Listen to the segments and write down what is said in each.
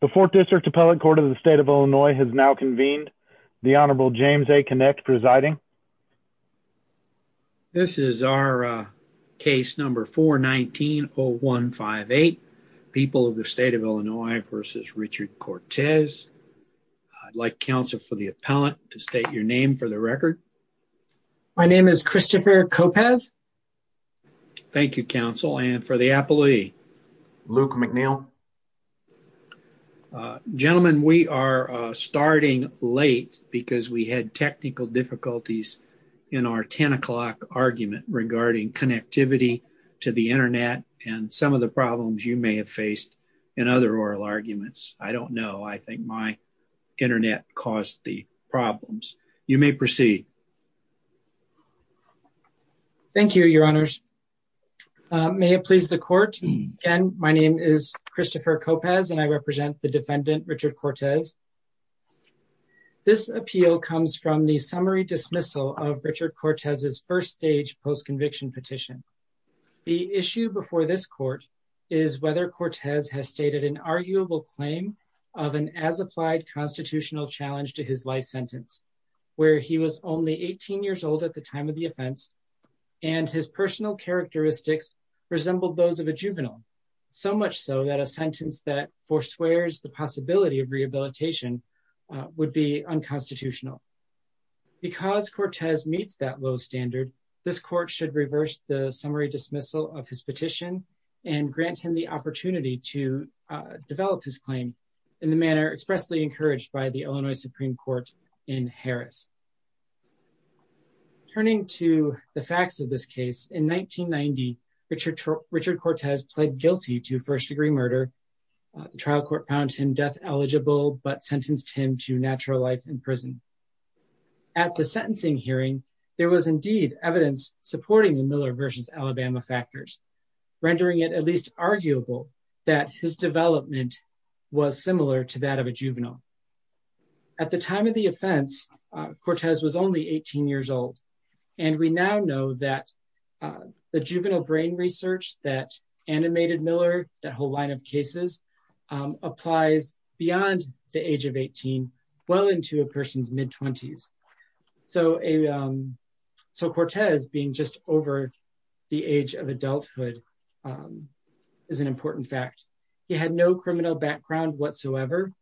the fourth district appellate court of the state of illinois has now convened the honorable james a connect presiding this is our case number 419 0158 people of the state of illinois versus richard cortez i'd like counsel for the appellant to state your name for the record my name is christopher copas thank you counsel and for the appellee luke mcneil gentlemen we are starting late because we had technical difficulties in our 10 o'clock argument regarding connectivity to the internet and some of the problems you may have faced in other oral arguments i don't know i think my internet caused the problems you may proceed thank you your honors may it please the court again my name is christopher copas and i represent the defendant richard cortez this appeal comes from the summary dismissal of richard cortez's first stage post-conviction petition the issue before this court is whether cortez has stated an arguable claim of an as applied constitutional challenge to his life sentence where he was 18 years old at the time of the offense and his personal characteristics resembled those of a juvenile so much so that a sentence that forswears the possibility of rehabilitation would be unconstitutional because cortez meets that low standard this court should reverse the summary dismissal of his petition and grant him the opportunity to develop his claim in the manner expressly encouraged by the illinois supreme court in harris turning to the facts of this case in 1990 richard richard cortez pled guilty to first degree murder the trial court found him death eligible but sentenced him to natural life in prison at the sentencing hearing there was indeed evidence supporting the miller versus alabama factors rendering it at least arguable that his development was similar to that of a juvenile at the time of the offense cortez was only 18 years old and we now know that the juvenile brain research that animated miller that whole line of cases applies beyond the age of 18 well into a person's mid-20s so a um so cortez being just over the age of adulthood is an important fact he had no criminal background whatsoever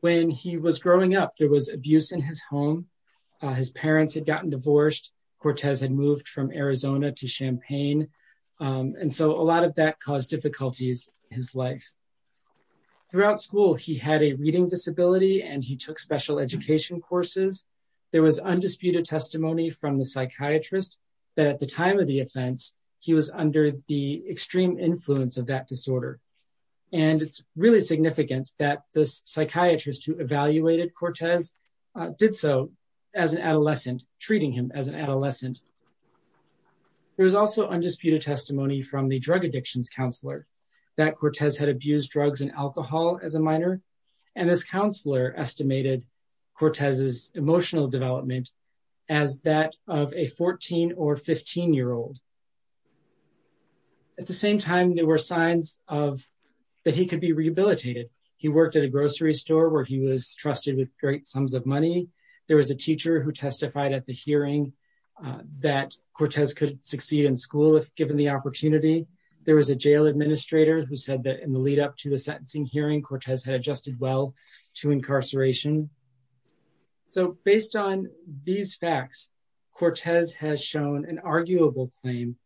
when he was growing up there was abuse in his home his parents had gotten divorced cortez had moved from arizona to champagne and so a lot of that caused difficulties his life throughout school he had a reading disability and took special education courses there was undisputed testimony from the psychiatrist that at the time of the offense he was under the extreme influence of that disorder and it's really significant that this psychiatrist who evaluated cortez did so as an adolescent treating him as an adolescent there was also undisputed testimony from the drug addictions counselor that cortez had abused drugs and alcohol as a minor and this counselor estimated cortez's emotional development as that of a 14 or 15 year old at the same time there were signs of that he could be rehabilitated he worked at a grocery store where he was trusted with great sums of money there was a teacher who testified at the hearing that cortez could succeed in school if given the opportunity there was a jail administrator who said that in the lead-up to the sentencing hearing cortez had adjusted well to incarceration so based on these facts cortez has shown an arguable claim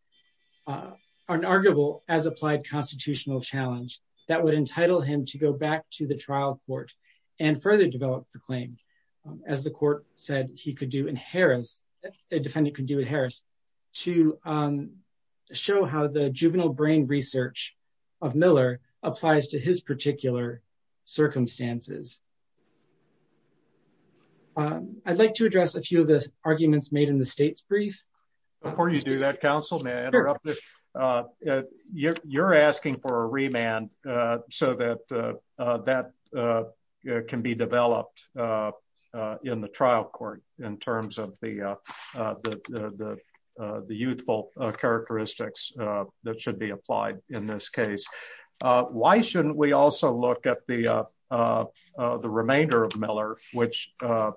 uh an arguable as applied constitutional challenge that would entitle him to go back to the trial court and further develop the claim as the court said he could do in harris a defendant could do at harris to um show how the of miller applies to his particular circumstances i'd like to address a few of the arguments made in the state's brief before you do that council may i interrupt uh you're asking for a remand uh so that uh that uh can be developed uh in the trial court in terms of the uh the the uh the youthful uh characteristics uh that should in this case uh why shouldn't we also look at the uh uh the remainder of miller which uh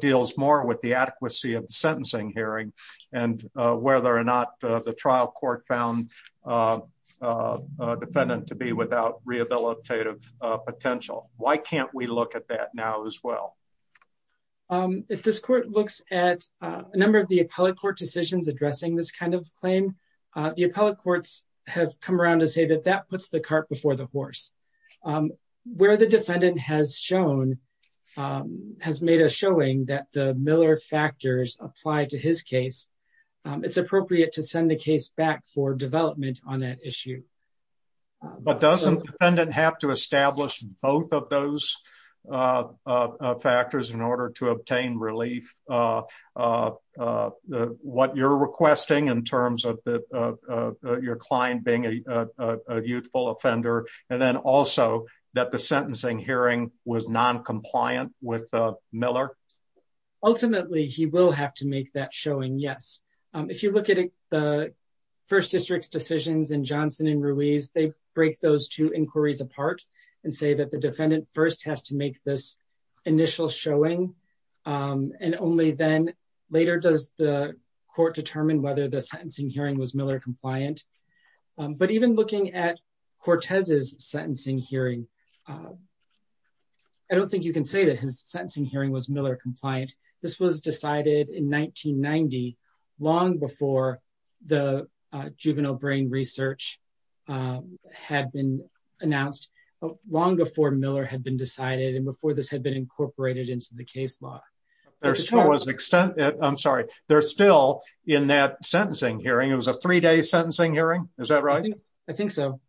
deals more with the adequacy of the sentencing hearing and uh whether or not the trial court found uh a defendant to be without rehabilitative potential why can't we look at that now as well um if this court looks at a number of the appellate court decisions addressing this kind of have come around to say that that puts the cart before the horse um where the defendant has shown um has made a showing that the miller factors apply to his case um it's appropriate to send the case back for development on that issue but doesn't the defendant have to establish both of those uh uh factors in order to obtain relief uh uh uh what you're requesting in terms of the uh your client being a youthful offender and then also that the sentencing hearing was non-compliant with uh miller ultimately he will have to make that showing yes um if you look at the first district's decisions and johnson and ruiz they break those two inquiries apart and say that the defendant first has to make this initial showing um and only then later does the court determine whether the sentencing hearing was miller compliant but even looking at cortez's sentencing hearing i don't think you can say that his sentencing hearing was miller compliant this was decided in 1990 long before the juvenile brain research had been announced long before miller had been decided and before this had been incorporated into the case law there was an extent i'm sorry they're still in that sentencing hearing it was a three-day sentencing hearing is that right i think so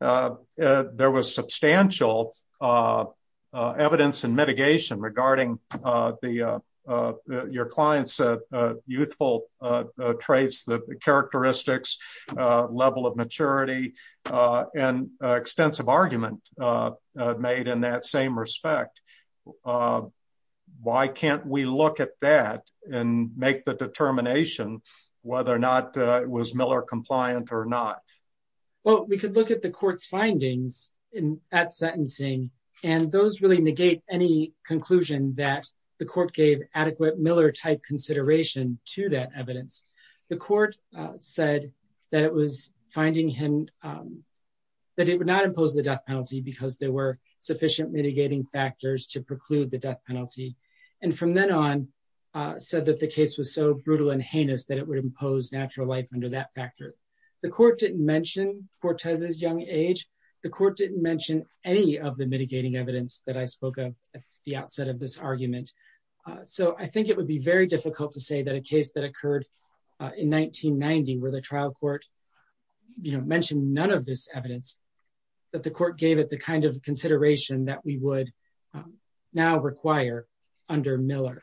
uh there was substantial uh evidence and mitigation regarding uh the uh your client's uh youthful uh traits the characteristics uh level of maturity and extensive argument uh made in that same respect uh why can't we look at that and make the determination whether or not it was miller compliant or not well we could look at the court's findings in that sentencing and those really negate any conclusion that the court gave adequate miller type consideration to that evidence the court said that it was finding him um that it would not impose the death penalty because there were sufficient mitigating factors to preclude the death penalty and from then on uh said that the case was so brutal and heinous that it would impose natural life under that factor the court didn't mention cortez's young age the court didn't mention any of the mitigating evidence that i spoke of at the outset of this argument so i think it would be very difficult to say that a case that occurred in 1990 where the trial court you know mentioned none of this evidence that the court gave it the kind of consideration that we would now require under miller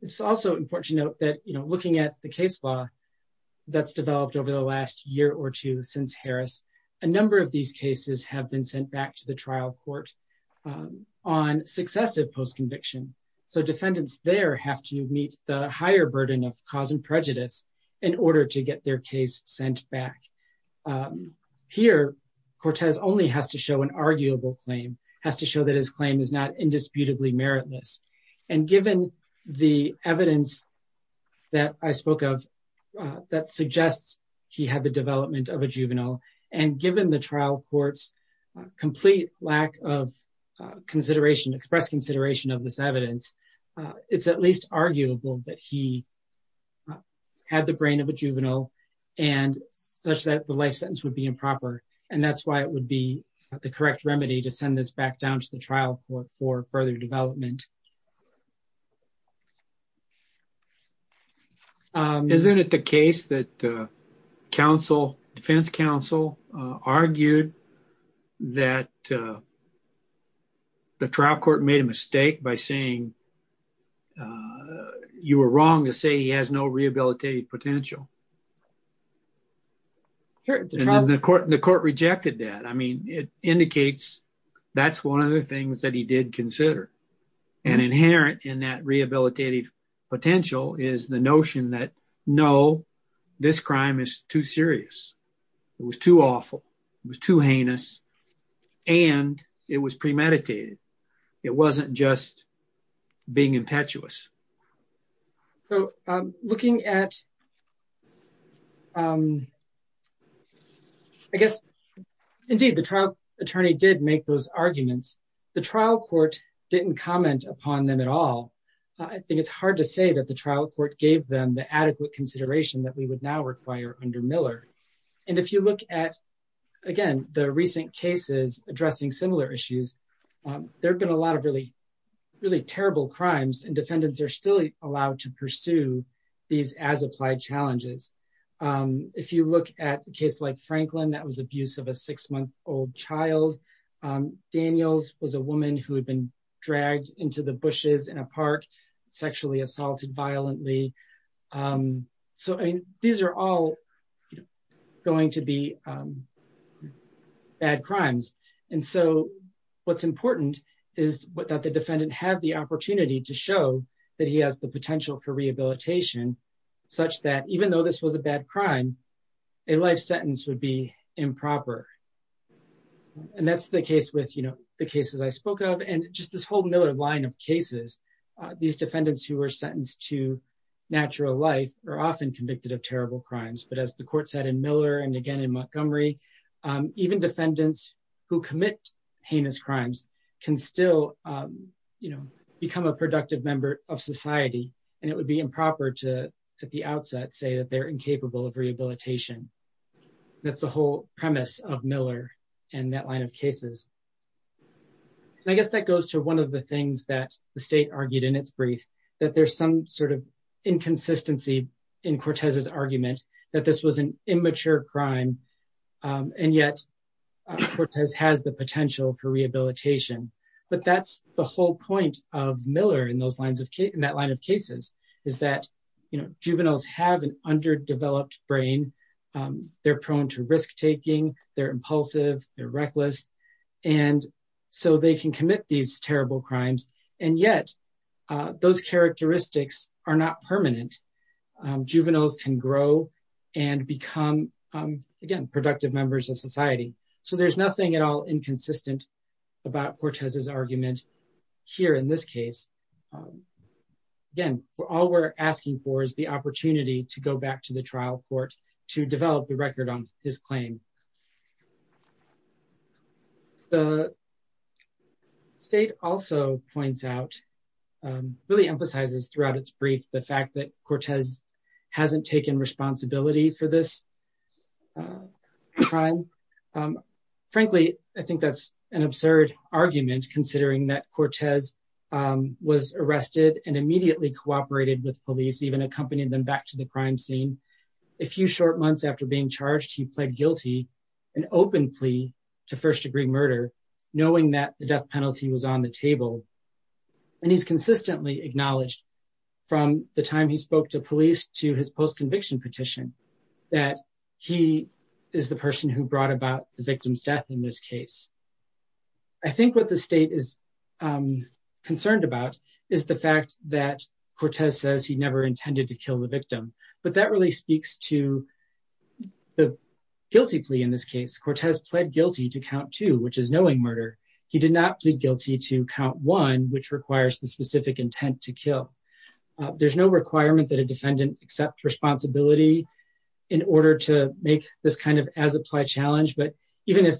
it's also important to note that you know looking at the case law that's developed over the last year or two since harris a number of these cases have been sent back to the trial court on successive post-conviction so defendants there have to meet the higher burden of cause and prejudice in order to get their case sent back here cortez only has to show an arguable claim has to show that his claim is not indisputably meritless and given the evidence that i spoke of that suggests he had the development of a juvenile and given the trial court's complete lack of consideration express consideration of this evidence it's at least arguable that he had the brain of a juvenile and such that the life sentence would be improper and that's why it would be the correct remedy to send this back down to the trial for further development isn't it the case that council defense council argued that the trial court made a mistake by saying you were wrong to say he has no rehabilitative potential here the court the court rejected that i mean it indicates that's one of the things that he did consider and inherent in that rehabilitative potential is the notion that no this crime is too serious it was too awful it was too heinous and it was premeditated it wasn't just being impetuous so looking at i guess indeed the trial attorney did make those arguments the trial court didn't comment upon them at all i think it's hard to say that the trial court gave them the adequate consideration that we would now require under miller and if you look at again the recent cases addressing similar issues there have been a lot of really really terrible crimes and defendants are still allowed to pursue these as applied challenges if you look at a case like franklin that was abuse of a six month old child daniels was a woman who had been dragged into the bushes in a park sexually violently so i mean these are all going to be bad crimes and so what's important is that the defendant have the opportunity to show that he has the potential for rehabilitation such that even though this was a bad crime a life sentence would be improper and that's the case with you know the cases i spoke of and just this whole miller line of cases these defendants who were sentenced to natural life are often convicted of terrible crimes but as the court said in miller and again in montgomery even defendants who commit heinous crimes can still you know become a productive member of society and it would be improper to at the outset say that they're incapable of rehabilitation that's the whole premise of miller and that line of cases and i guess that goes to one of the things that the state argued in its brief that there's some sort of inconsistency in cortez's argument that this was an immature crime and yet cortez has the potential for rehabilitation but that's the whole point of miller in those lines of in that line of cases is that you know juveniles have an underdeveloped brain they're and so they can commit these terrible crimes and yet those characteristics are not permanent juveniles can grow and become again productive members of society so there's nothing at all inconsistent about cortez's argument here in this case again all we're asking for is the opportunity to go back to the trial court to develop the record on his claim the state also points out really emphasizes throughout its brief the fact that cortez hasn't taken responsibility for this crime frankly i think that's an absurd argument considering that cortez was arrested and immediately cooperated with police even accompanied them back to the crime scene a few short months after being charged he pled guilty an open plea to first-degree murder knowing that the death penalty was on the table and he's consistently acknowledged from the time he spoke to police to his post-conviction petition that he is the person who brought about the victim's death in this case i think what the state is concerned about is the fact that cortez says he never intended to kill the victim but really speaks to the guilty plea in this case cortez pled guilty to count two which is knowing murder he did not plead guilty to count one which requires the specific intent to kill there's no requirement that a defendant accept responsibility in order to make this kind of as applied challenge but even if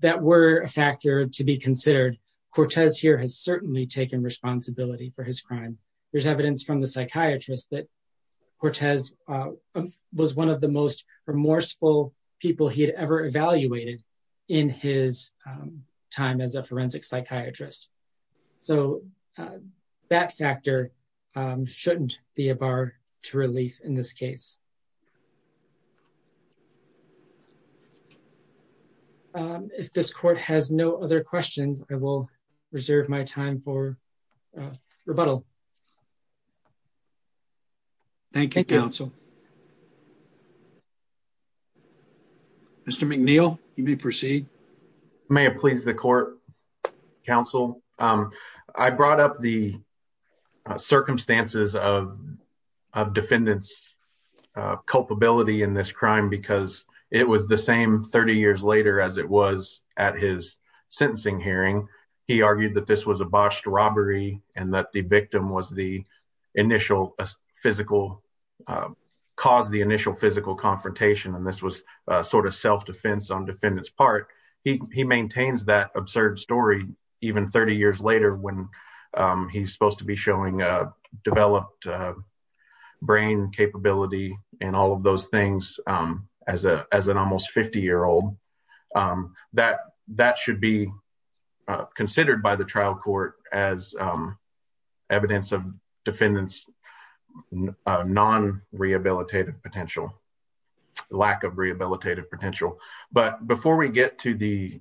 that were a factor to be considered cortez here has certainly taken responsibility for his crime there's evidence from the psychiatrist that cortez was one of the most remorseful people he had ever evaluated in his time as a forensic psychiatrist so that factor shouldn't be a bar to relief in this case um if this court has no other questions i will reserve my time for rebuttal thank you counsel mr mcneil you may proceed may it please the court council um i brought up the circumstances of a defendant's culpability in this crime because it was the same 30 years later as it was at his sentencing hearing he argued that this was a botched robbery and that the victim was the initial physical cause the initial physical confrontation and this was a sort of self-defense on defendant's part he maintains that absurd story even 30 years later when he's supposed to be showing a developed brain capability and all of those things um as a as an almost 50 year old um that that should be considered by the trial court as um evidence of defendant's non-rehabilitative potential lack of rehabilitative potential but before we get to the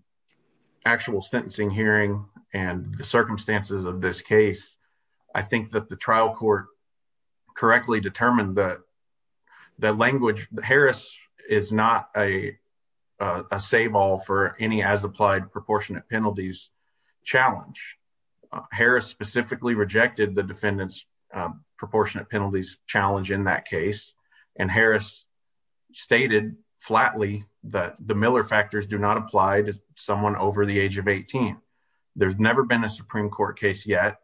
i think that the trial court correctly determined that the language harris is not a a save all for any as applied proportionate penalties challenge harris specifically rejected the defendant's proportionate penalties challenge in that case and harris stated flatly that the miller factors do not apply to someone over the age of 18 there's never been a supreme court case yet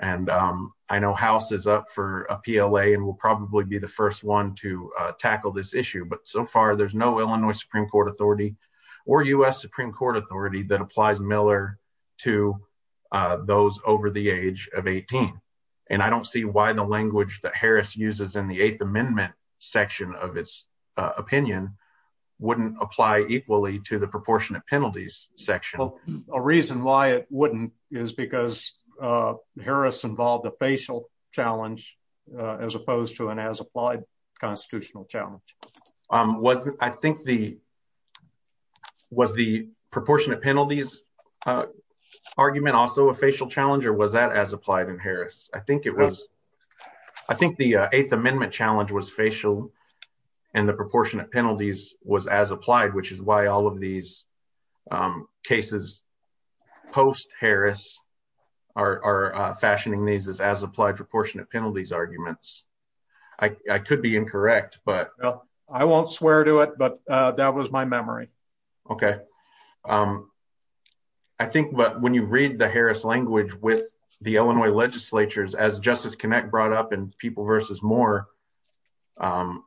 and um i know house is up for a pla and will probably be the first one to uh tackle this issue but so far there's no illinois supreme court authority or u.s supreme court authority that applies miller to uh those over the age of 18 and i don't see why the language that harris uses in the eighth amendment section of its opinion wouldn't apply equally to the proportionate uh harris involved a facial challenge as opposed to an as applied constitutional challenge um was i think the was the proportionate penalties uh argument also a facial challenge or was that as applied in harris i think it was i think the eighth amendment challenge was facial and the proportionate penalties was as applied which is why all of these um cases post harris are are fashioning these as as applied proportionate penalties arguments i i could be incorrect but i won't swear to it but uh that was my memory okay um i think but when you read the harris language with the illinois legislatures as justice connect brought up in more um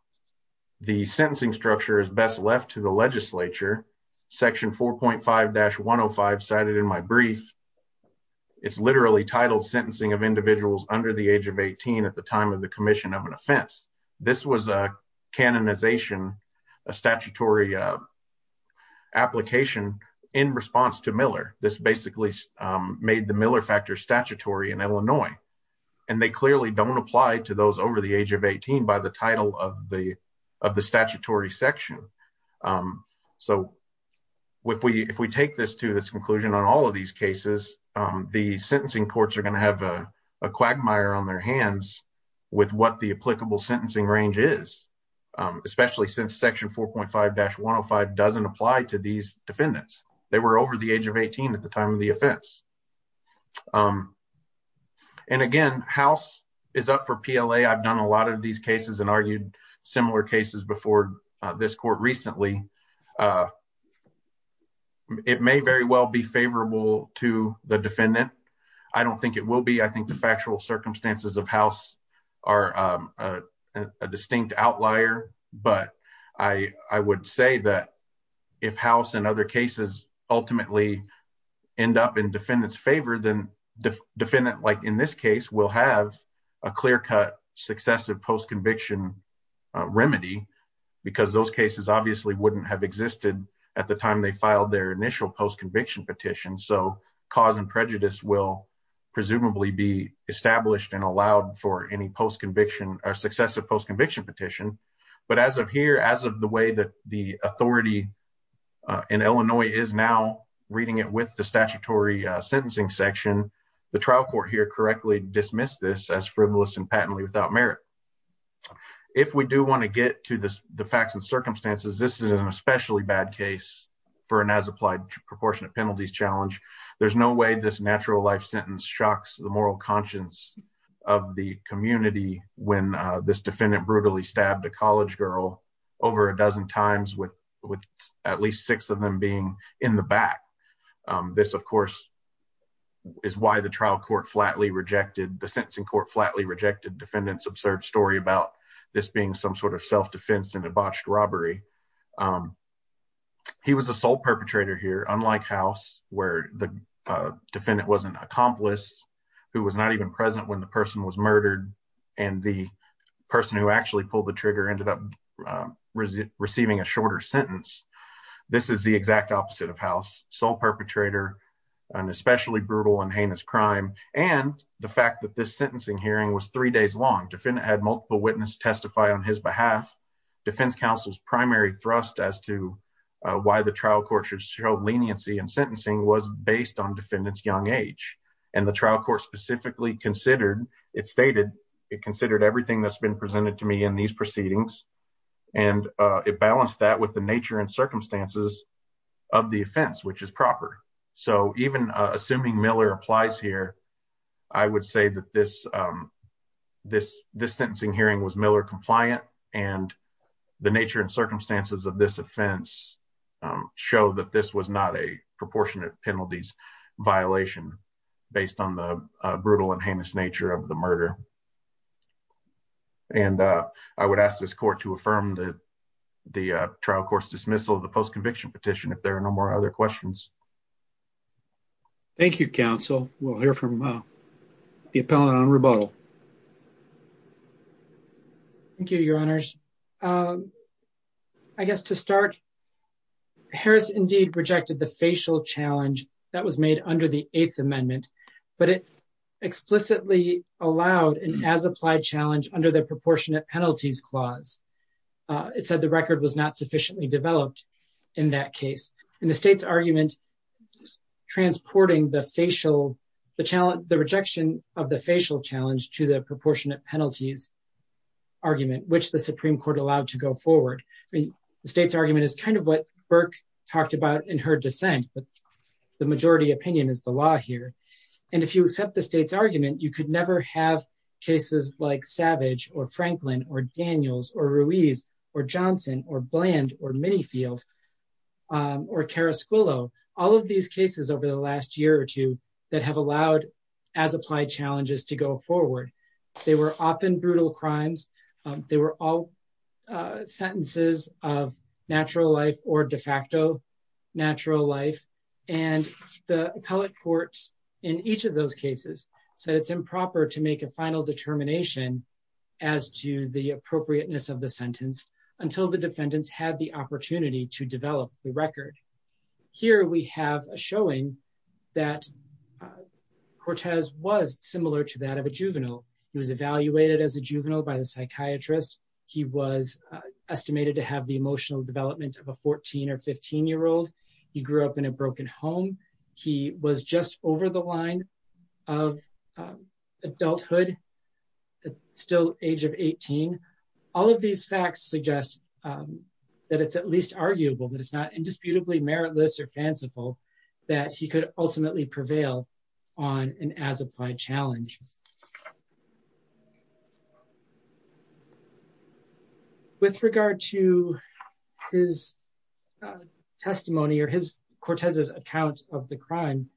the sentencing structure is best left to the legislature section 4.5-105 cited in my brief it's literally titled sentencing of individuals under the age of 18 at the time of the commission of an offense this was a canonization a statutory uh application in response to miller this basically made the miller factor statutory in illinois and they clearly don't apply to those over the age of 18 by the title of the of the statutory section um so if we if we take this to this conclusion on all of these cases um the sentencing courts are going to have a quagmire on their hands with what the applicable sentencing range is especially since section 4.5-105 doesn't apply to these defendants they were over the age of 18 at the time of the offense um and again house is up for pla i've done a lot of these cases and argued similar cases before this court recently it may very well be favorable to the defendant i don't think it will be i think the factual and other cases ultimately end up in defendant's favor then the defendant like in this case will have a clear-cut successive post-conviction remedy because those cases obviously wouldn't have existed at the time they filed their initial post-conviction petition so cause and prejudice will presumably be established and allowed for any post-conviction or successive post-conviction petition but as of here as of the way that the authority uh in illinois is now reading it with the statutory uh sentencing section the trial court here correctly dismissed this as frivolous and patently without merit if we do want to get to this the facts and circumstances this is an especially bad case for an as applied proportionate penalties challenge there's no way this natural life sentence shocks the moral conscience of the community when uh this defendant brutally stabbed a college girl over a dozen times with with at least six of them being in the back this of course is why the trial court flatly rejected the sentencing court flatly rejected defendant's absurd story about this being some sort of self-defense and a botched robbery um he was a sole perpetrator here unlike house where the defendant was an accomplice who was not even present when the person was murdered and the person who actually pulled the trigger ended up receiving a shorter sentence this is the exact opposite of house sole perpetrator an especially brutal and heinous crime and the fact that this sentencing hearing was three days long defendant had multiple witnesses testify on his behalf defense counsel's primary thrust as to why the trial court should show leniency and sentencing was based on defendant's young age and the trial court specifically considered it stated it considered everything that's been presented to me in these proceedings and uh it balanced that with the nature and circumstances of the offense which is proper so even assuming miller applies here i would say that this um this this sentencing hearing was miller compliant and the nature and circumstances of this offense show that this was not a proportionate penalties violation based on the brutal and heinous nature of the murder and uh i would ask this court to affirm the the trial court's dismissal of the post-conviction petition if there are no more other questions thank you counsel we'll hear from the appellant on rebuttal thank you your honors um i guess to start harris indeed rejected the facial challenge that was made under the eighth amendment but it explicitly allowed an as applied challenge under the proportionate penalties clause uh it said the record was not sufficiently developed in that case and the state's argument transporting the facial the challenge the rejection of the facial challenge to the proportionate penalties argument which the supreme court allowed to go forward i mean the state's argument is kind of what burke talked about in her dissent but the majority opinion is the law here and if you accept the state's argument you could never have cases like savage or franklin or daniels or ruiz or johnson or bland or minifield or cara squillo all of these cases over the last year or two that have allowed as applied challenges to go forward they were often brutal crimes they were all sentences of natural life or de facto natural life and the appellate courts in each of those cases said it's improper to make a final determination as to the appropriateness of the sentence until the defendants had the opportunity to develop the record here we have a showing that cortez was similar to that of a juvenile he was evaluated as a juvenile by the psychiatrist he was estimated to have the emotional development of a 14 or 15 year old he grew up in a broken home he was just over the line of adulthood still age of 18 all of these facts suggest that it's at least arguable that it's not indisputably meritless or fanciful that he could ultimately prevail on an as applied challenge with regard to his testimony or his cortez's account of the crime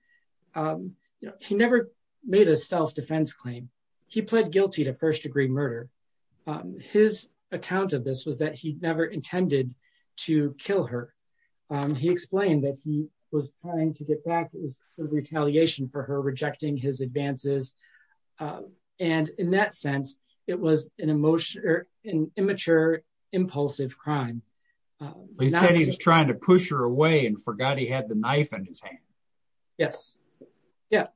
um he never made a self-defense claim he pled guilty to first-degree murder his account of this was that he never intended to kill her he explained that he was trying to get back it was a retaliation for her rejecting his advances and in that sense it was an emotion an immature impulsive crime he said he was trying to push her away and forgot he had the knife in yes yeah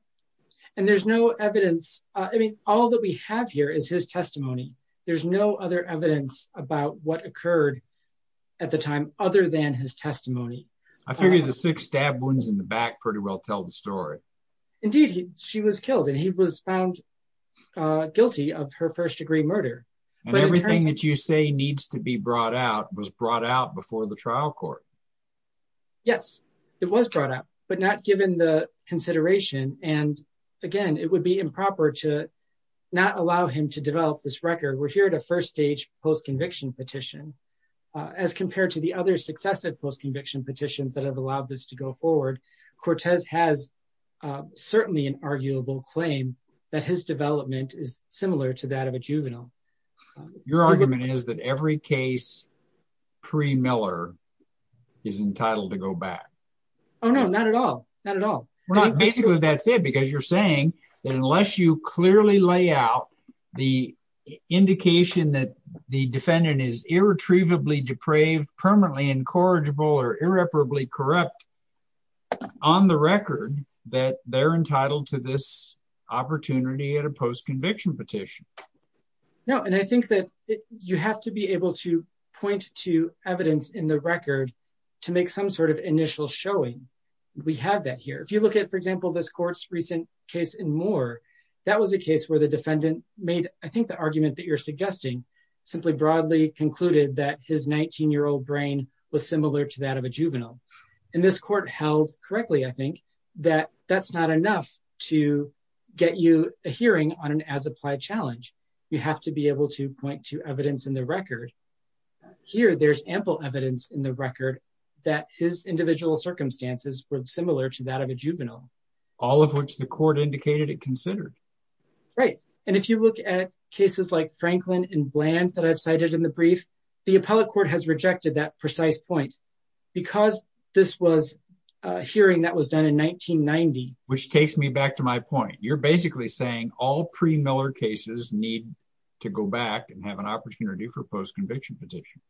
and there's no evidence uh i mean all that we have here is his testimony there's no other evidence about what occurred at the time other than his testimony i figured the six stab wounds in the back pretty well tell the story indeed she was killed and he was found uh guilty of her first degree murder and everything that you say needs to be brought out was brought out but not given the consideration and again it would be improper to not allow him to develop this record we're here at a first stage post-conviction petition as compared to the other successive post-conviction petitions that have allowed this to go forward cortez has uh certainly an arguable claim that his development is similar to that of a juvenile your argument is every case pre-miller is entitled to go back oh no not at all not at all basically that's it because you're saying that unless you clearly lay out the indication that the defendant is irretrievably depraved permanently incorrigible or irreparably corrupt on the record that they're point to evidence in the record to make some sort of initial showing we have that here if you look at for example this court's recent case in more that was a case where the defendant made i think the argument that you're suggesting simply broadly concluded that his 19 year old brain was similar to that of a juvenile and this court held correctly i think that that's not enough to get you a hearing on an as applied challenge you have to be able to point to evidence in the record here there's ample evidence in the record that his individual circumstances were similar to that of a juvenile all of which the court indicated it considered right and if you look at cases like franklin and bland that i've cited in the brief the appellate court has rejected that precise point because this was a hearing that was done in 1990 which takes me back to my point you're basically saying all pre-miller cases need to go back and have an opportunity for post-conviction petition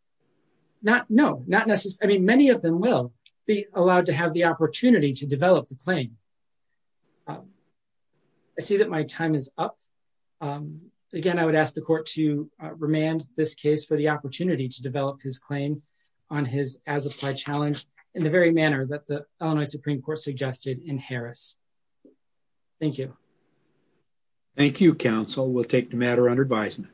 not no not necessarily many of them will be allowed to have the opportunity to develop the claim i see that my time is up again i would ask the court to remand this case for the opportunity to develop his claim on his as applied challenge in the very manner that the thank you counsel we'll take the matter under advisement